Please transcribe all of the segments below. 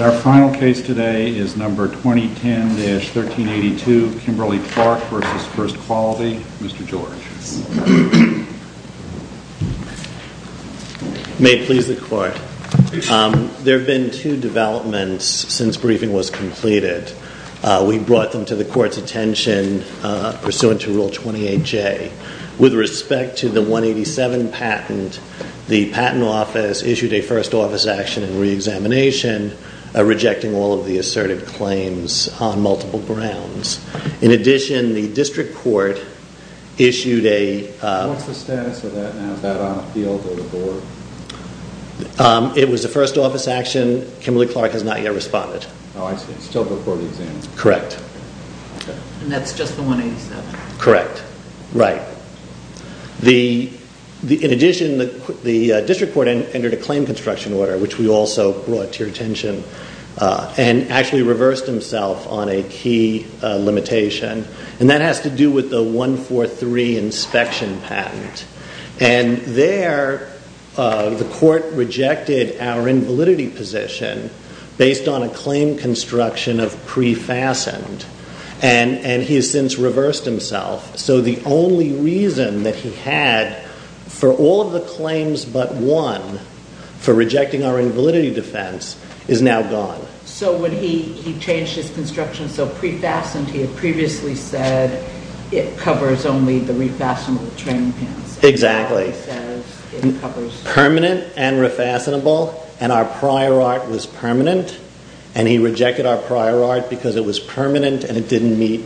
Our final case today is number 2010-1382 Kimberly-Clark v. FIRST QUALITY, Mr. George. May it please the court, there have been two developments since briefing was completed. We brought them to the court's attention pursuant to Rule 28J. With respect to the 187 patent, the patent office issued a first office action and re-examination rejecting all of the asserted claims on multiple grounds. In addition, the district court issued a... What's the status of that now? Is that on the field or the board? It was a first office action. Kimberly-Clark has not yet responded. Oh, it's still before the exam? Correct. And that's just the 187? Correct. Right. In addition, the district court entered a claim construction order, which we also brought to your attention, and actually reversed himself on a key limitation. And that has to do with the 143 inspection patent. And there, the court rejected our invalidity position based on a claim construction of pre-fastened. And he has since reversed himself. So the only reason that he had for all of the claims but one, for rejecting our invalidity defense, is now gone. So when he changed his construction, so pre-fastened, he had previously said it covers only the refastenable training pants. Exactly. He says it covers... And it didn't meet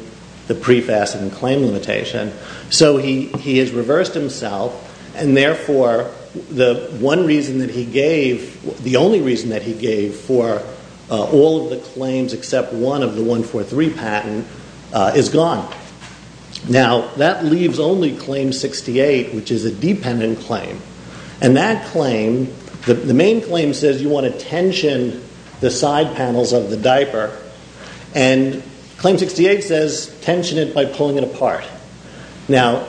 the pre-fastened claim limitation. So he has reversed himself. And therefore, the one reason that he gave... The only reason that he gave for all of the claims except one of the 143 patent is gone. Now, that leaves only Claim 68, which is a dependent claim. And that claim... The main claim says you want to tension the side panels of the diaper. And Claim 68 says tension it by pulling it apart. Now,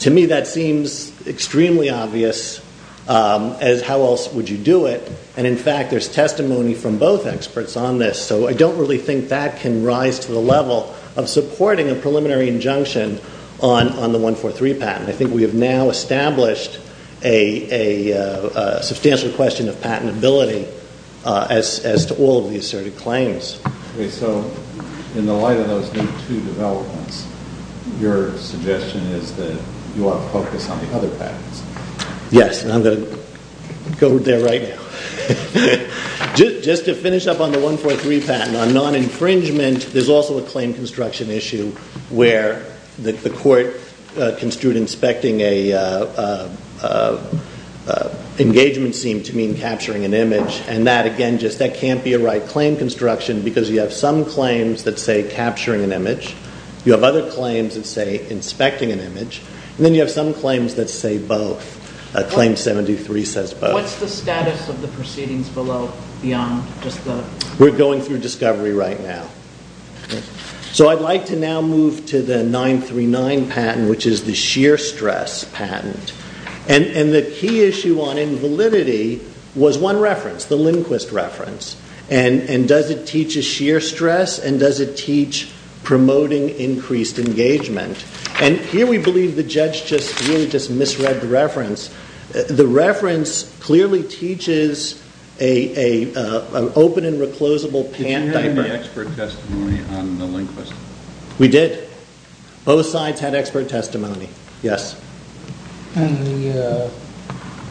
to me, that seems extremely obvious as how else would you do it. And, in fact, there's testimony from both experts on this. So I don't really think that can rise to the level of supporting a preliminary injunction on the 143 patent. I think we have now established a substantial question of patentability as to all of the asserted claims. Okay, so in the light of those two developments, your suggestion is that you ought to focus on the other patents. Yes, and I'm going to go there right now. Just to finish up on the 143 patent, on non-infringement, there's also a claim construction issue where the court construed inspecting an engagement scene to mean capturing an image. And that, again, just that can't be a right claim construction because you have some claims that say capturing an image. You have other claims that say inspecting an image. And then you have some claims that say both. Claim 73 says both. What's the status of the proceedings below beyond just the... We're going through discovery right now. So I'd like to now move to the 939 patent, which is the sheer stress patent. And the key issue on invalidity was one reference, the Lindquist reference. And does it teach a sheer stress? And does it teach promoting increased engagement? And here we believe the judge just really just misread the reference. The reference clearly teaches an open and reclosable pant diaper. Did you have any expert testimony on the Lindquist? We did. Both sides had expert testimony. Yes. And the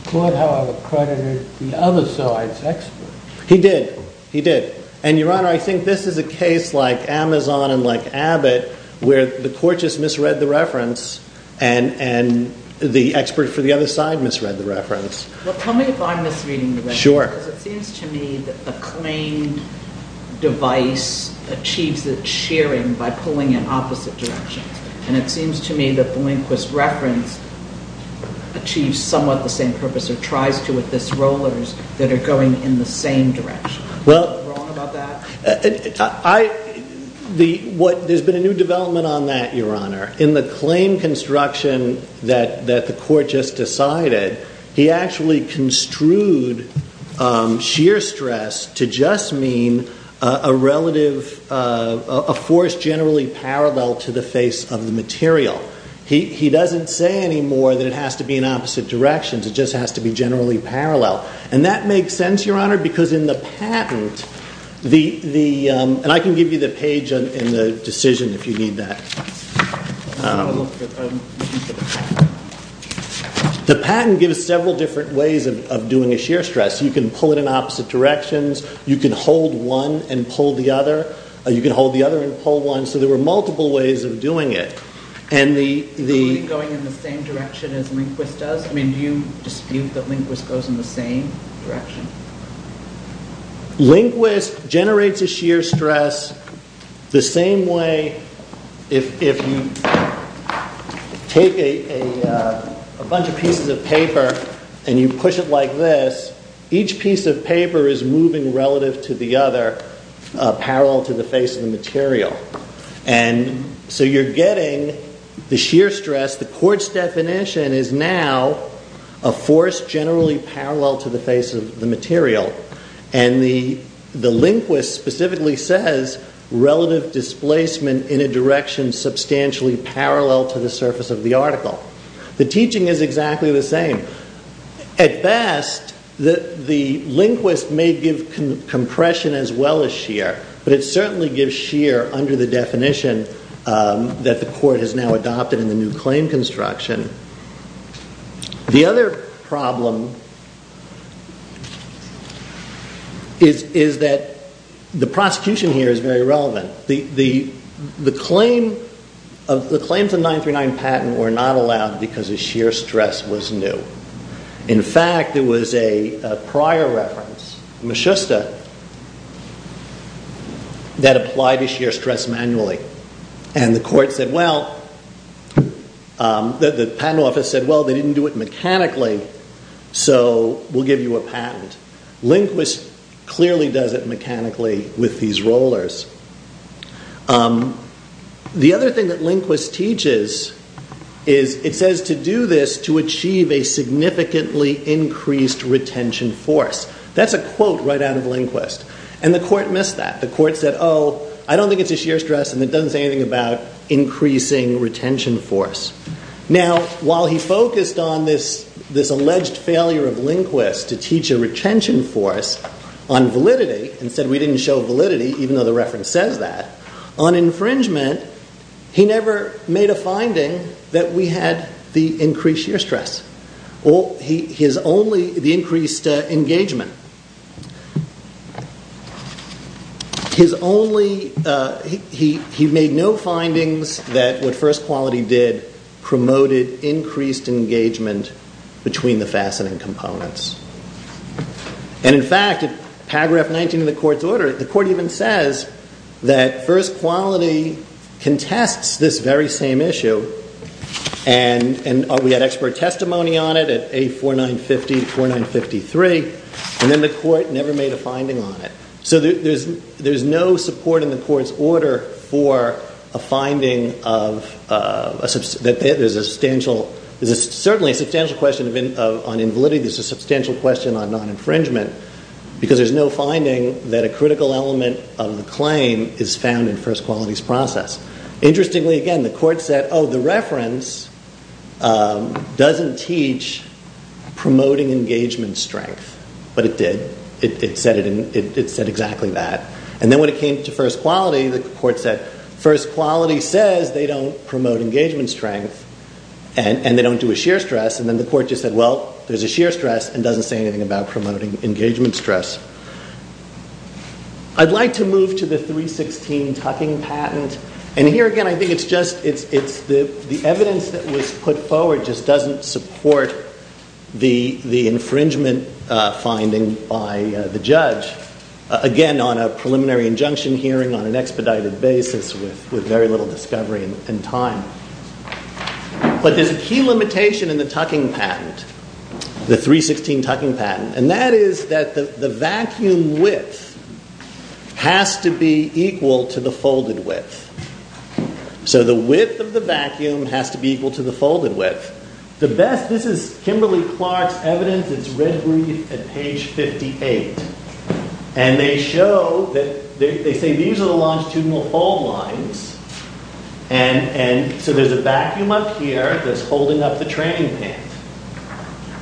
court, however, credited the other side's expert. He did. He did. And, Your Honor, I think this is a case like Amazon and like Abbott where the court just misread the reference and the expert for the other side misread the reference. Well, tell me if I'm misreading the reference. Sure. Because it seems to me that the claimed device achieves its shearing by pulling in opposite directions. And it seems to me that the Lindquist reference achieves somewhat the same purpose or tries to with this rollers that are going in the same direction. Well, there's been a new development on that, Your Honor. In the claim construction that the court just decided, he actually construed sheer stress to just mean a force generally parallel to the face of the material. He doesn't say anymore that it has to be in opposite directions. It just has to be generally parallel. And that makes sense, Your Honor, because in the patent, and I can give you the page in the decision if you need that. The patent gives several different ways of doing a sheer stress. You can pull it in opposite directions. You can hold one and pull the other. You can hold the other and pull one. So there were multiple ways of doing it. Going in the same direction as Lindquist does? Do you dispute that Lindquist goes in the same direction? Lindquist generates a sheer stress the same way if you take a bunch of pieces of paper and you push it like this, each piece of paper is moving relative to the other, parallel to the face of the material. And so you're getting the sheer stress. The court's definition is now a force generally parallel to the face of the material. And the Lindquist specifically says, relative displacement in a direction substantially parallel to the surface of the article. The teaching is exactly the same. At best, the Lindquist may give compression as well as sheer, but it certainly gives sheer under the definition that the court has now adopted in the new claim construction. The other problem is that the prosecution here is very relevant. The claims of 939 patent were not allowed because the sheer stress was new. In fact, there was a prior reference, Maschusta, that applied the sheer stress manually. And the court said, well, the patent office said, well, they didn't do it mechanically, so we'll give you a patent. Lindquist clearly does it mechanically with these rollers. The other thing that Lindquist teaches is, it says to do this to achieve a significantly increased retention force. That's a quote right out of Lindquist. And the court missed that. The court said, oh, I don't think it's a sheer stress, and it doesn't say anything about increasing retention force. Now, while he focused on this alleged failure of Lindquist to teach a retention force on validity, and said we didn't show validity, even though the reference says that, on infringement, he never made a finding that we had the increased sheer stress, the increased engagement. He made no findings that what first quality did promoted increased engagement between the fastening components. And in fact, in paragraph 19 of the court's order, the court even says that first quality contests this very same issue, and we had expert testimony on it at A4950 to A4953, and then the court never made a finding on it. So there's no support in the court's order for a finding that there's a substantial, certainly a substantial question on invalidity. There's a substantial question on non-infringement, because there's no finding that a critical element of the claim is found in first quality's process. Interestingly, again, the court said, oh, the reference doesn't teach promoting engagement strength, but it did. It said exactly that. And then when it came to first quality, the court said, first quality says they don't promote engagement strength, and they don't do a sheer stress, and then the court just said, well, there's a sheer stress and doesn't say anything about promoting engagement stress. I'd like to move to the 316 tucking patent. And here again, I think it's just the evidence that was put forward just doesn't support the infringement finding by the judge, again, on a preliminary injunction hearing on an expedited basis with very little discovery in time. But there's a key limitation in the tucking patent, the 316 tucking patent, and that is that the vacuum width has to be equal to the folded width. So the width of the vacuum has to be equal to the folded width. The best, this is Kimberly Clark's evidence. It's red briefed at page 58. And they show that, they say these are the longitudinal fold lines, and so there's a vacuum up here that's holding up the training pan.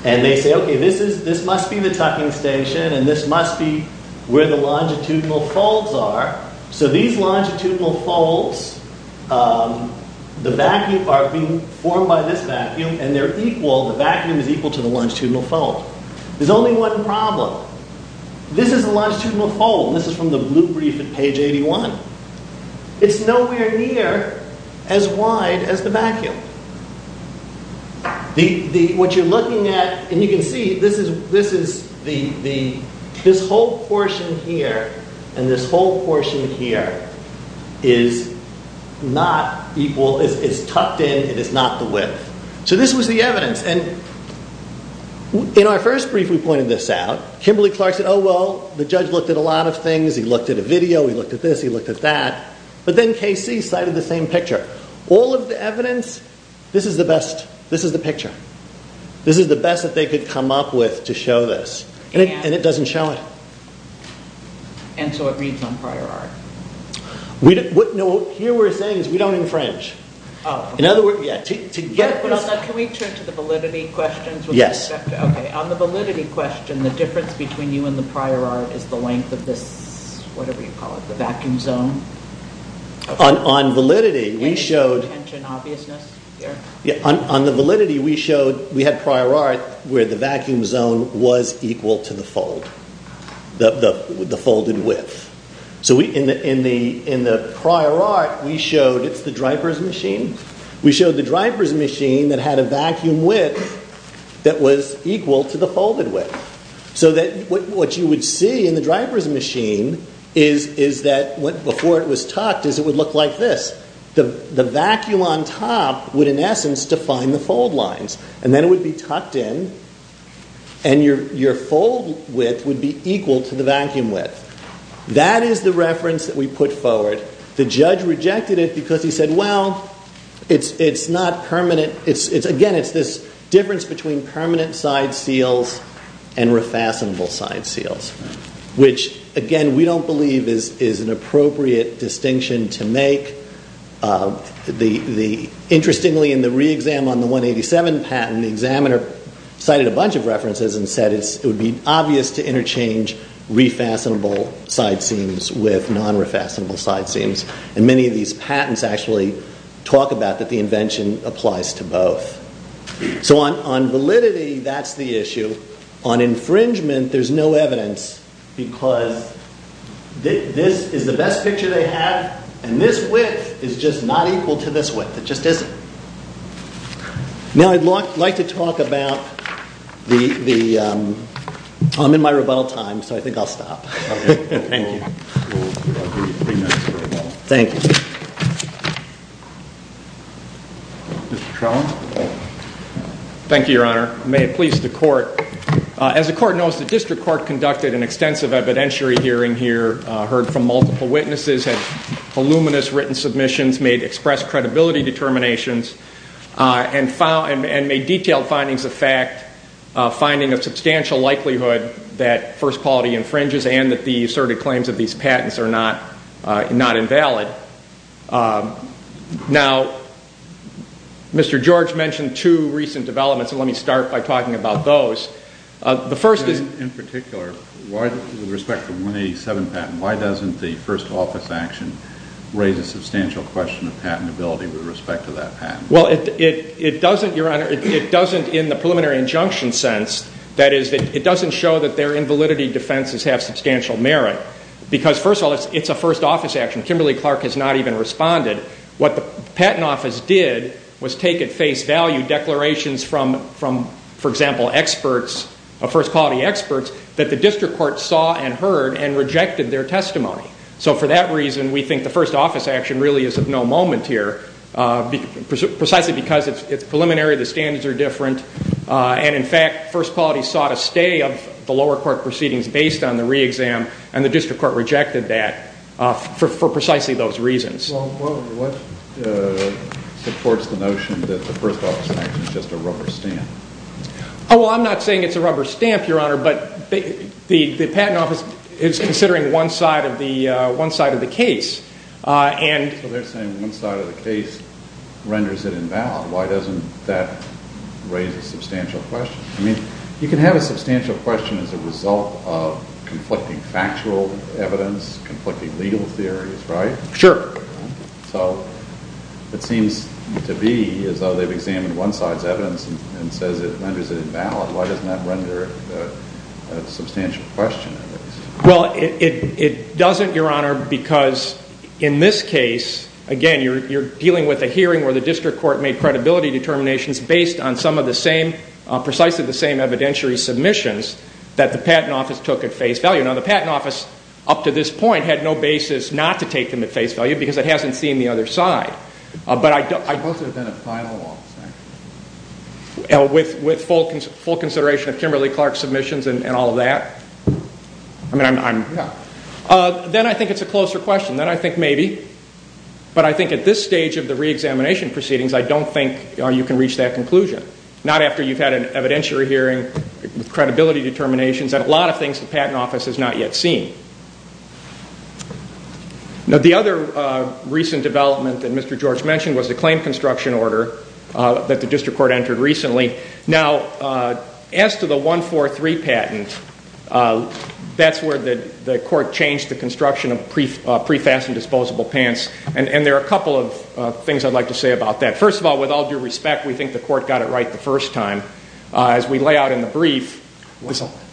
And they say, okay, this must be the tucking station, and this must be where the longitudinal folds are. So these longitudinal folds, the vacuum are being formed by this vacuum, and they're equal, the vacuum is equal to the longitudinal fold. There's only one problem. This is a longitudinal fold, and this is from the blue brief at page 81. It's nowhere near as wide as the vacuum. What you're looking at, and you can see, this is the, this whole portion here and this whole portion here is not equal, it's tucked in, it is not the width. So this was the evidence, and in our first brief we pointed this out. Kimberly Clark said, oh, well, the judge looked at a lot of things. He looked at a video, he looked at this, he looked at that. But then KC cited the same picture. All of the evidence, this is the best, this is the picture. This is the best that they could come up with to show this. And it doesn't show it. And so it reads on prior art. No, here we're saying is we don't infringe. Oh. In other words, yeah. Can we turn to the validity questions? Yes. Okay, on the validity question, the difference between you and the prior art is the length of this, whatever you call it, the vacuum zone? On validity, we showed. Any tension, obviousness here? On the validity, we showed, we had prior art where the vacuum zone was equal to the fold. The folded width. So in the prior art, we showed, it's the driver's machine. We showed the driver's machine that had a vacuum width that was equal to the folded width. So that what you would see in the driver's machine is that before it was tucked, it would look like this. The vacuum on top would, in essence, define the fold lines. And then it would be tucked in. And your fold width would be equal to the vacuum width. That is the reference that we put forward. The judge rejected it because he said, well, it's not permanent. Again, it's this difference between permanent side seals and refascinable side seals, which, again, we don't believe is an appropriate distinction to make. Interestingly, in the re-exam on the 187 patent, the examiner cited a bunch of references and said it would be obvious to interchange refascinable side seams with non-refascinable side seams. And many of these patents actually talk about that the invention applies to both. So on validity, that's the issue. On infringement, there's no evidence because this is the best picture they have, and this width is just not equal to this width. It just isn't. Now I'd like to talk about the... I'm in my rebuttal time, so I think I'll stop. Thank you. Thank you. Mr. Trellin. Thank you, Your Honor. May it please the court. As the court knows, the district court conducted an extensive evidentiary hearing here, heard from multiple witnesses, had voluminous written submissions, made express credibility determinations, and made detailed findings of fact, that first quality infringes and that the asserted claims of these patents are not invalid. Now, Mr. George mentioned two recent developments, and let me start by talking about those. The first is... In particular, with respect to the 187 patent, why doesn't the first office action raise a substantial question of patentability with respect to that patent? Well, it doesn't, Your Honor, it doesn't in the preliminary injunction sense. That is, it doesn't show that their invalidity defenses have substantial merit, because, first of all, it's a first office action. Kimberly Clark has not even responded. What the patent office did was take at face value declarations from, for example, experts, first quality experts, that the district court saw and heard and rejected their testimony. So for that reason, we think the first office action really is of no moment here, precisely because it's preliminary, the standards are different, and, in fact, first quality sought a stay of the lower court proceedings based on the re-exam, and the district court rejected that for precisely those reasons. Well, what supports the notion that the first office action is just a rubber stamp? Oh, well, I'm not saying it's a rubber stamp, Your Honor, but the patent office is considering one side of the case. So they're saying one side of the case renders it invalid. Why doesn't that raise a substantial question? I mean, you can have a substantial question as a result of conflicting factual evidence, conflicting legal theories, right? Sure. So it seems to be as though they've examined one side's evidence and says it renders it invalid. Why doesn't that render it a substantial question? Well, it doesn't, Your Honor, because in this case, again, you're dealing with a hearing where the district court made credibility determinations based on some of the same, precisely the same evidentiary submissions that the patent office took at face value. Now, the patent office, up to this point, had no basis not to take them at face value because it hasn't seen the other side. But I don't think it's been a final office action. With full consideration of Kimberly-Clark submissions and all of that? I mean, I'm not. Then I think it's a closer question. Then I think maybe. But I think at this stage of the reexamination proceedings, I don't think you can reach that conclusion, not after you've had an evidentiary hearing with credibility determinations and a lot of things the patent office has not yet seen. Now, the other recent development that Mr. George mentioned was the claim construction order that the district court entered recently. Now, as to the 143 patent, that's where the court changed the construction of pre-fastened disposable pants. And there are a couple of things I'd like to say about that. First of all, with all due respect, we think the court got it right the first time. As we lay out in the brief.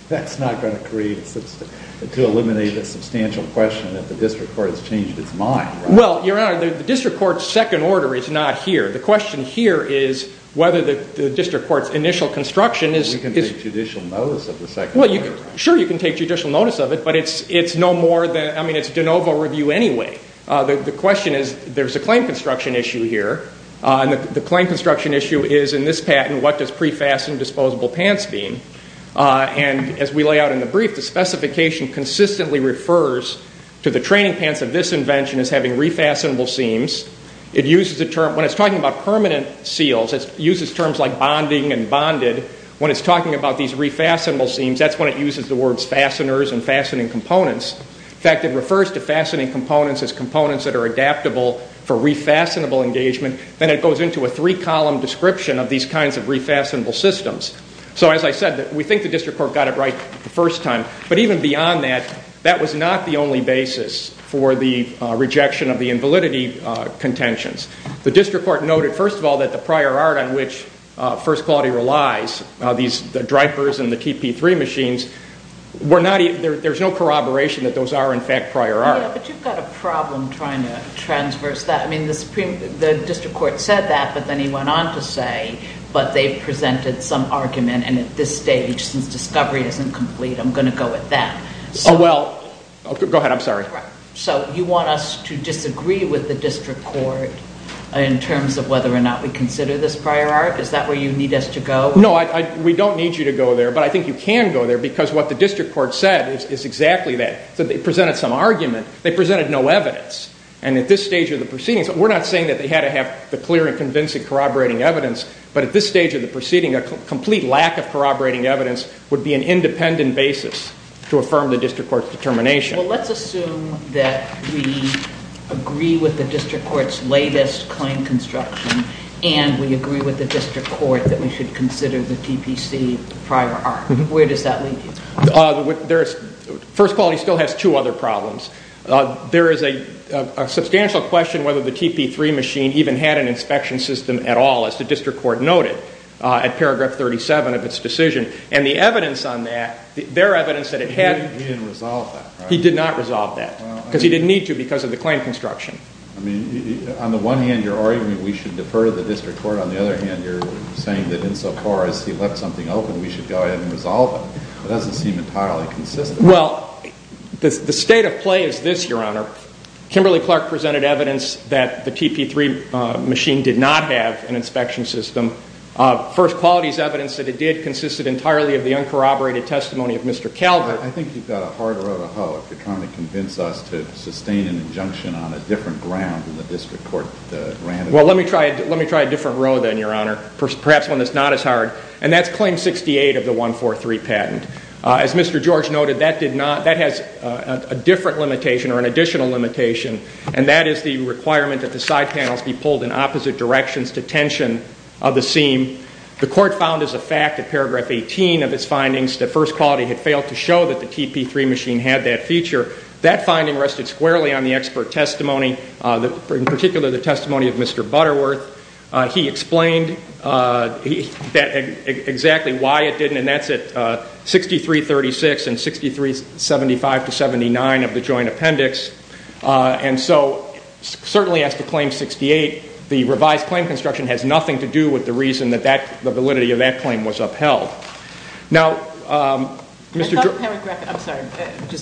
That's not going to create, to eliminate a substantial question that the district court has changed its mind. Well, Your Honor, the district court's second order is not here. The question here is whether the district court's initial construction is. We can take judicial notice of the second order. Well, sure, you can take judicial notice of it. But it's no more than, I mean, it's de novo review anyway. The question is, there's a claim construction issue here. And the claim construction issue is, in this patent, what does pre-fastened disposable pants mean? And as we lay out in the brief, the specification consistently refers to the training pants of this invention as having refastenable seams. When it's talking about permanent seals, it uses terms like bonding and bonded. When it's talking about these refastenable seams, that's when it uses the words fasteners and fastening components. In fact, it refers to fastening components as components that are adaptable for refastenable engagement. Then it goes into a three-column description of these kinds of refastenable systems. So, as I said, we think the district court got it right the first time. But even beyond that, that was not the only basis for the rejection of the invalidity contentions. The district court noted, first of all, that the prior art on which First Quality relies, the drypers and the TP3 machines, there's no corroboration that those are, in fact, prior art. Yeah, but you've got a problem trying to transverse that. I mean, the district court said that, but then he went on to say, but they presented some argument, and at this stage, since discovery isn't complete, I'm going to go with that. Oh, well, go ahead. I'm sorry. So you want us to disagree with the district court in terms of whether or not we consider this prior art? Is that where you need us to go? No, we don't need you to go there. But I think you can go there because what the district court said is exactly that. They presented some argument. They presented no evidence. And at this stage of the proceedings, we're not saying that they had to have the clear and convincing corroborating evidence, but at this stage of the proceeding, a complete lack of corroborating evidence would be an independent basis to affirm the district court's determination. Well, let's assume that we agree with the district court's latest claim construction and we agree with the district court that we should consider the TPC prior art. Where does that leave you? First Quality still has two other problems. There is a substantial question whether the TP3 machine even had an inspection system at all, as the district court noted at paragraph 37 of its decision. And the evidence on that, their evidence that it had... He didn't resolve that, right? He did not resolve that because he didn't need to because of the claim construction. I mean, on the one hand, you're arguing we should defer to the district court. On the other hand, you're saying that insofar as he left something open, we should go ahead and resolve it. It doesn't seem entirely consistent. Well, the state of play is this, Your Honor. Kimberly-Clark presented evidence that the TP3 machine did not have an inspection system. First Quality's evidence that it did consisted entirely of the uncorroborated testimony of Mr. Calvert. I think you've got a hard row to hoe if you're trying to convince us to sustain an injunction on a different ground than the district court ran. Well, let me try a different row then, Your Honor, perhaps one that's not as hard. And that's Claim 68 of the 143 patent. As Mr. George noted, that has a different limitation or an additional limitation, and that is the requirement that the side panels be pulled in opposite directions to tension of the seam. The court found as a fact that Paragraph 18 of its findings that First Quality had failed to show that the TP3 machine had that feature. That finding rested squarely on the expert testimony, in particular the testimony of Mr. Butterworth. He explained exactly why it didn't, and that's at 6336 and 6375-79 of the joint appendix. And so certainly as to Claim 68, the revised claim construction has nothing to do with the reason that the validity of that claim was upheld. Just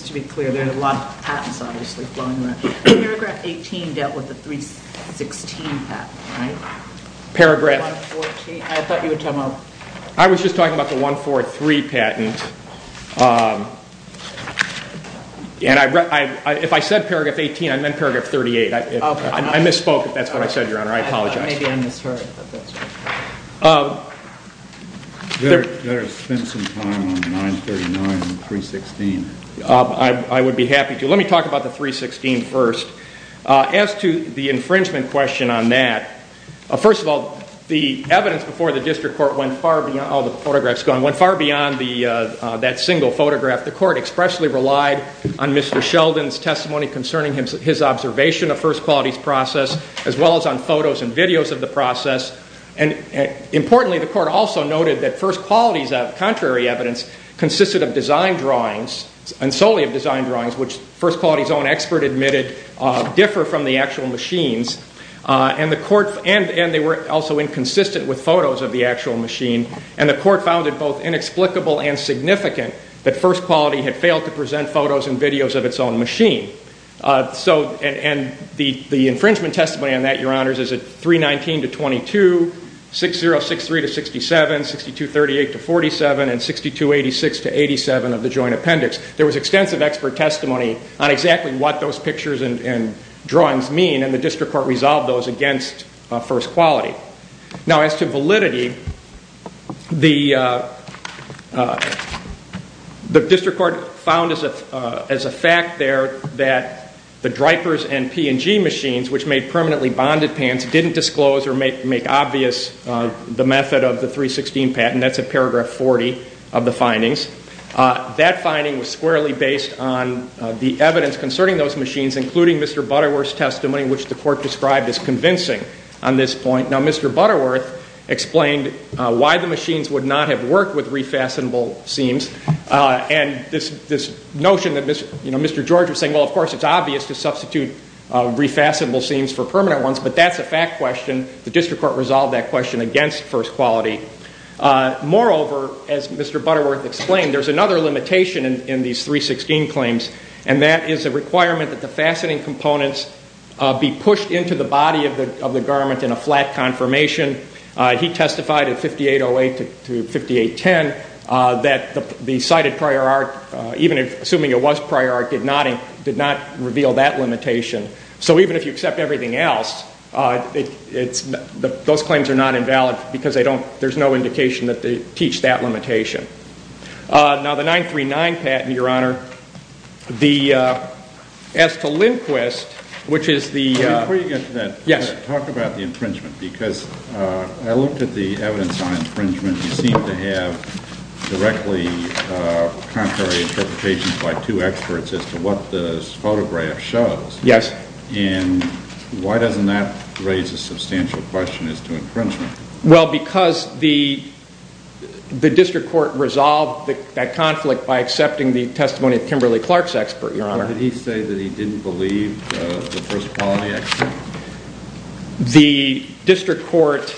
to be clear, there are a lot of patents obviously flowing around. Paragraph 18 dealt with the 316 patent, right? I was just talking about the 143 patent. If I said Paragraph 18, I meant Paragraph 38. I misspoke if that's what I said, Your Honor. I apologize. Maybe I misheard. You better spend some time on 939 and 316. I would be happy to. Let me talk about the 316 first. As to the infringement question on that, first of all, the evidence before the district court went far beyond that single photograph. The court expressly relied on Mr. Sheldon's testimony concerning his observation of First Quality's process, as well as on photos and videos of the process. Importantly, the court also noted that First Quality's contrary evidence consisted of design drawings, and solely of design drawings, which First Quality's own expert admitted differ from the actual machine's. And they were also inconsistent with photos of the actual machine. And the court found it both inexplicable and significant that First Quality had failed to present photos and videos of its own machine. And the infringement testimony on that, Your Honors, is 319-22, 6063-67, 6238-47, and 6286-87 of the joint appendix. There was extensive expert testimony on exactly what those pictures and drawings mean, and the district court resolved those against First Quality. Now, as to validity, the district court found as a fact there that the DRIPERS and P&G machines, which made permanently bonded pans, didn't disclose or make obvious the method of the 316 patent. That's at paragraph 40 of the findings. That finding was squarely based on the evidence concerning those machines, including Mr. Butterworth's testimony, which the court described as convincing on this point. Now, Mr. Butterworth explained why the machines would not have worked with refastenable seams, and this notion that Mr. George was saying, well, of course, it's obvious to substitute refastenable seams for permanent ones, but that's a fact question. The district court resolved that question against First Quality. Moreover, as Mr. Butterworth explained, there's another limitation in these 316 claims, and that is a requirement that the fastening components be pushed into the body of the garment in a flat confirmation. He testified in 5808 to 5810 that the cited prior art, even assuming it was prior art, did not reveal that limitation. So even if you accept everything else, those claims are not invalid because there's no indication that they teach that limitation. Now, the 939 patent, Your Honor, as to Lindquist, which is the- Before you get to that- Yes. Talk about the infringement, because I looked at the evidence on infringement. You seem to have directly contrary interpretations by two experts as to what this photograph shows. Yes. And why doesn't that raise a substantial question as to infringement? Well, because the district court resolved that conflict by accepting the testimony of Kimberly Clark's expert, Your Honor. Did he say that he didn't believe the First Quality expert? The district court,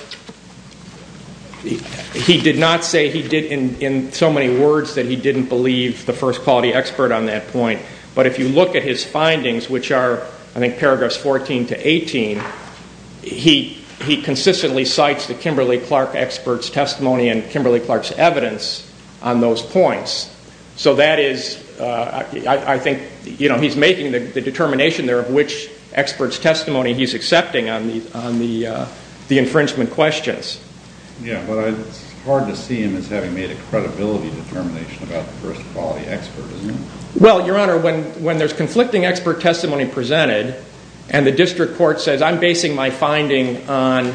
he did not say he did in so many words that he didn't believe the First Quality expert on that point, but if you look at his findings, which are, I think, paragraphs 14 to 18, he consistently cites the Kimberly Clark expert's testimony and Kimberly Clark's evidence on those points. So that is, I think, you know, he's making the determination there of which expert's testimony he's accepting on the infringement questions. Yeah, but it's hard to see him as having made a credibility determination about the First Quality expert, isn't it? Well, Your Honor, when there's conflicting expert testimony presented and the district court says, I'm basing my finding on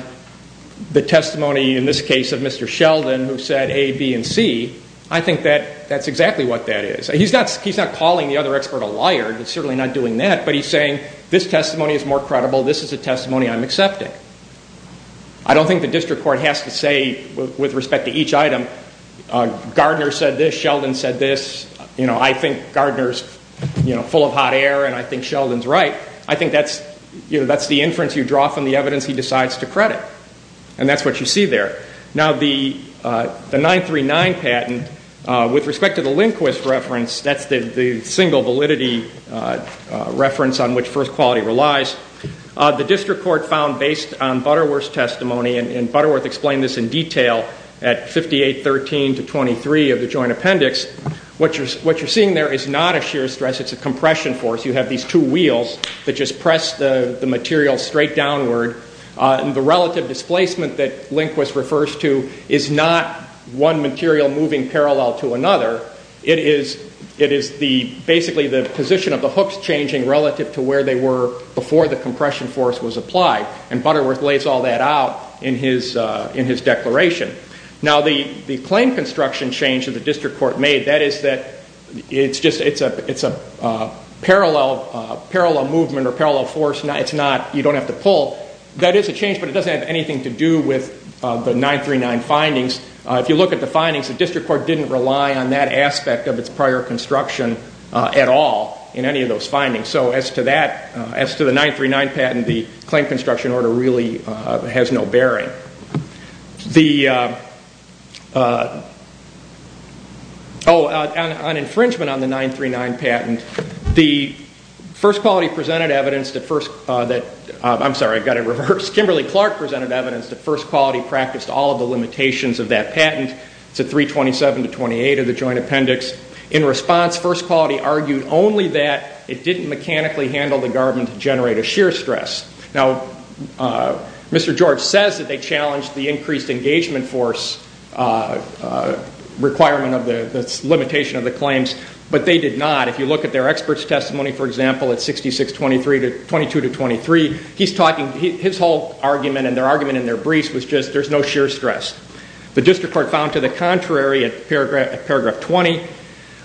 the testimony, in this case, of Mr. Sheldon, who said A, B, and C, I think that that's exactly what that is. He's not calling the other expert a liar. He's certainly not doing that, but he's saying this testimony is more credible. This is a testimony I'm accepting. I don't think the district court has to say, with respect to each item, Gardner said this, Sheldon said this. You know, I think Gardner's, you know, full of hot air and I think Sheldon's right. I think that's, you know, that's the inference you draw from the evidence he decides to credit, and that's what you see there. Now, the 939 patent, with respect to the Lindquist reference, that's the single validity reference on which First Quality relies, the district court found based on Butterworth's testimony, and Butterworth explained this in detail at 5813 to 23 of the joint appendix, what you're seeing there is not a shear stress, it's a compression force. You have these two wheels that just press the material straight downward, and the relative displacement that Lindquist refers to is not one material moving parallel to another. It is basically the position of the hooks changing relative to where they were before the compression force was applied, and Butterworth lays all that out in his declaration. Now, the claim construction change that the district court made, that is that it's a parallel movement or parallel force. It's not, you don't have to pull. That is a change, but it doesn't have anything to do with the 939 findings. If you look at the findings, the district court didn't rely on that aspect of its prior construction at all in any of those findings. So as to that, as to the 939 patent, the claim construction order really has no bearing. The, oh, on infringement on the 939 patent, the First Quality presented evidence that, I'm sorry, I've got it reversed. Kimberly Clark presented evidence that First Quality practiced all of the limitations of that patent. It's at 327 to 28 of the joint appendix. In response, First Quality argued only that it didn't mechanically handle the garb and generate a shear stress. Now, Mr. George says that they challenged the increased engagement force requirement of the limitation of the claims, but they did not. If you look at their expert's testimony, for example, at 6622 to 23, he's talking, his whole argument and their argument in their briefs was just there's no shear stress. The district court found to the contrary at paragraph 20,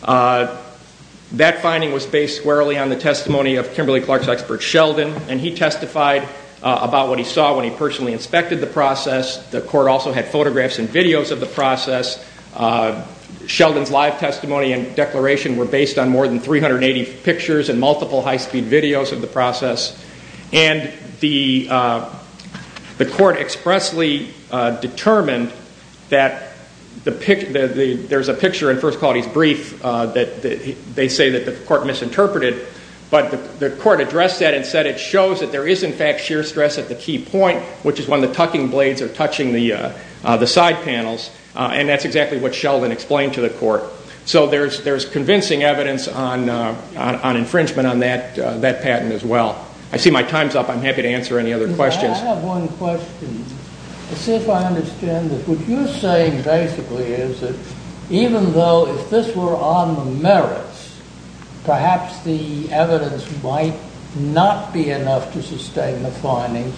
that finding was based squarely on the testimony of Kimberly Clark's expert Sheldon, and he testified about what he saw when he personally inspected the process. The court also had photographs and videos of the process. Sheldon's live testimony and declaration were based on more than 380 pictures and multiple high-speed videos of the process. And the court expressly determined that there's a picture in First Quality's brief that they say that the court misinterpreted, but the court addressed that and said it shows that there is, in fact, shear stress at the key point, which is when the tucking blades are touching the side panels, and that's exactly what Sheldon explained to the court. So there's convincing evidence on infringement on that patent as well. I see my time's up. I'm happy to answer any other questions. I have one question to see if I understand this. What you're saying basically is that even though if this were on the merits, perhaps the evidence might not be enough to sustain the findings.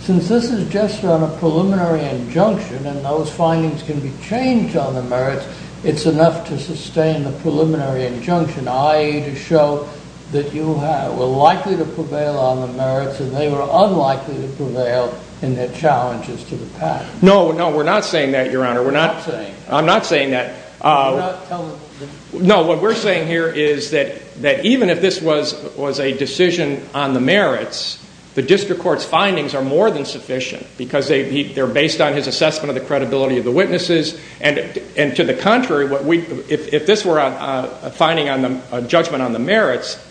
Since this is just on a preliminary injunction and those findings can be changed on the merits, it's enough to sustain the preliminary injunction, i.e. to show that you were likely to prevail on the merits and they were unlikely to prevail in their challenges to the patent. No, no, we're not saying that, Your Honor. I'm not saying that. No, what we're saying here is that even if this was a decision on the merits, the district court's findings are more than sufficient because they're based on his assessment of the credibility of the witnesses. And to the contrary, if this were a judgment on the merits,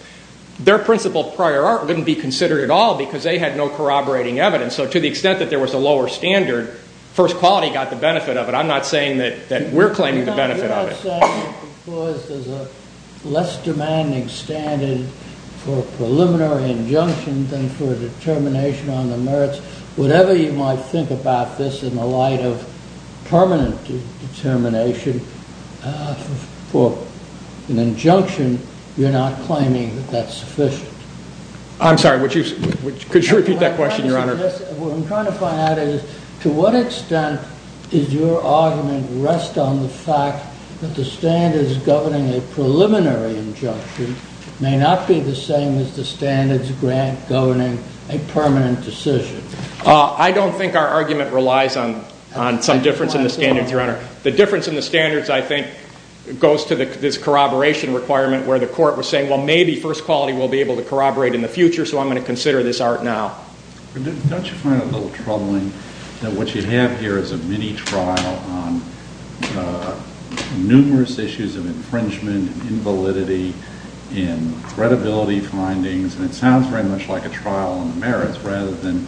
their principle prior art wouldn't be considered at all because they had no corroborating evidence. So to the extent that there was a lower standard, first quality got the benefit of it. I'm not saying that we're claiming the benefit of it. No, you're not saying that because there's a less demanding standard for a preliminary injunction than for a determination on the merits, whatever you might think about this in the light of permanent determination, for an injunction, you're not claiming that that's sufficient. I'm sorry, could you repeat that question, Your Honor? What I'm trying to find out is to what extent does your argument rest on the fact that the standards governing a preliminary injunction may not be the same as the standards grant governing a permanent decision. I don't think our argument relies on some difference in the standards, Your Honor. The difference in the standards, I think, goes to this corroboration requirement where the court was saying, well, maybe first quality will be able to corroborate in the future, so I'm going to consider this art now. Don't you find it a little troubling that what you have here is a mini-trial on numerous issues of infringement, invalidity, and credibility findings, and it sounds very much like a trial on the merits, rather than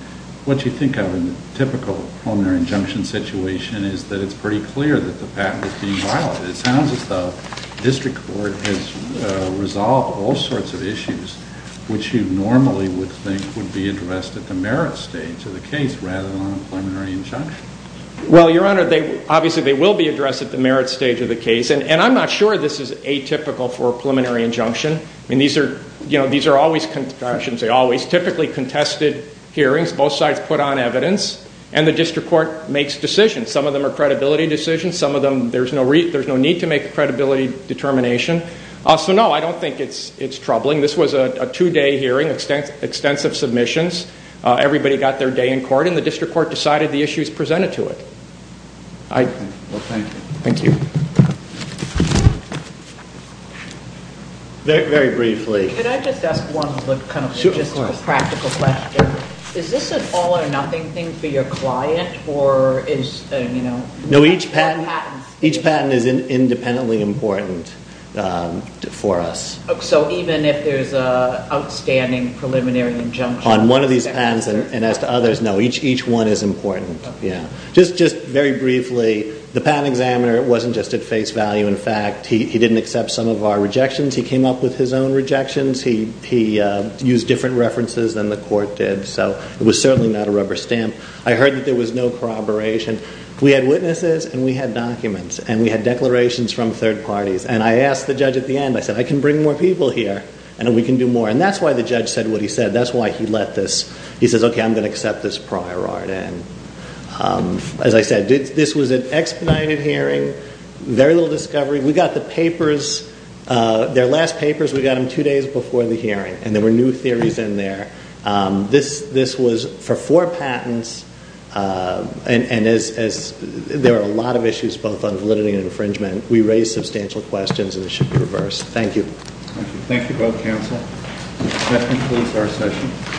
what you think of in the typical preliminary injunction situation is that it's pretty clear that the patent is being violated. It sounds as though district court has resolved all sorts of issues, which you normally would think would be addressed at the merits stage of the case rather than on a preliminary injunction. Well, Your Honor, obviously they will be addressed at the merits stage of the case, and I'm not sure this is atypical for a preliminary injunction. These are always typically contested hearings. Both sides put on evidence, and the district court makes decisions. Some of them are credibility decisions. There's no need to make a credibility determination. So, no, I don't think it's troubling. This was a two-day hearing, extensive submissions. Everybody got their day in court, and the district court decided the issues presented to it. Thank you. Very briefly. Could I just ask one practical question? Is this an all-or-nothing thing for your client? No, each patent is independently important for us. So even if there's an outstanding preliminary injunction? On one of these patents, and as to others, no, each one is important. Just very briefly, the patent examiner wasn't just at face value. In fact, he didn't accept some of our rejections. He came up with his own rejections. He used different references than the court did. So it was certainly not a rubber stamp. I heard that there was no corroboration. We had witnesses, and we had documents, and we had declarations from third parties. And I asked the judge at the end, I said, I can bring more people here, and we can do more. And that's why the judge said what he said. That's why he let this. He says, okay, I'm going to accept this prior art. And as I said, this was an expedited hearing, very little discovery. We got the papers, their last papers, we got them two days before the hearing. And there were new theories in there. This was for four patents. And there are a lot of issues, both on validity and infringement. We raised substantial questions, and it should be reversed. Thank you. Thank you both, counsel. That concludes our session.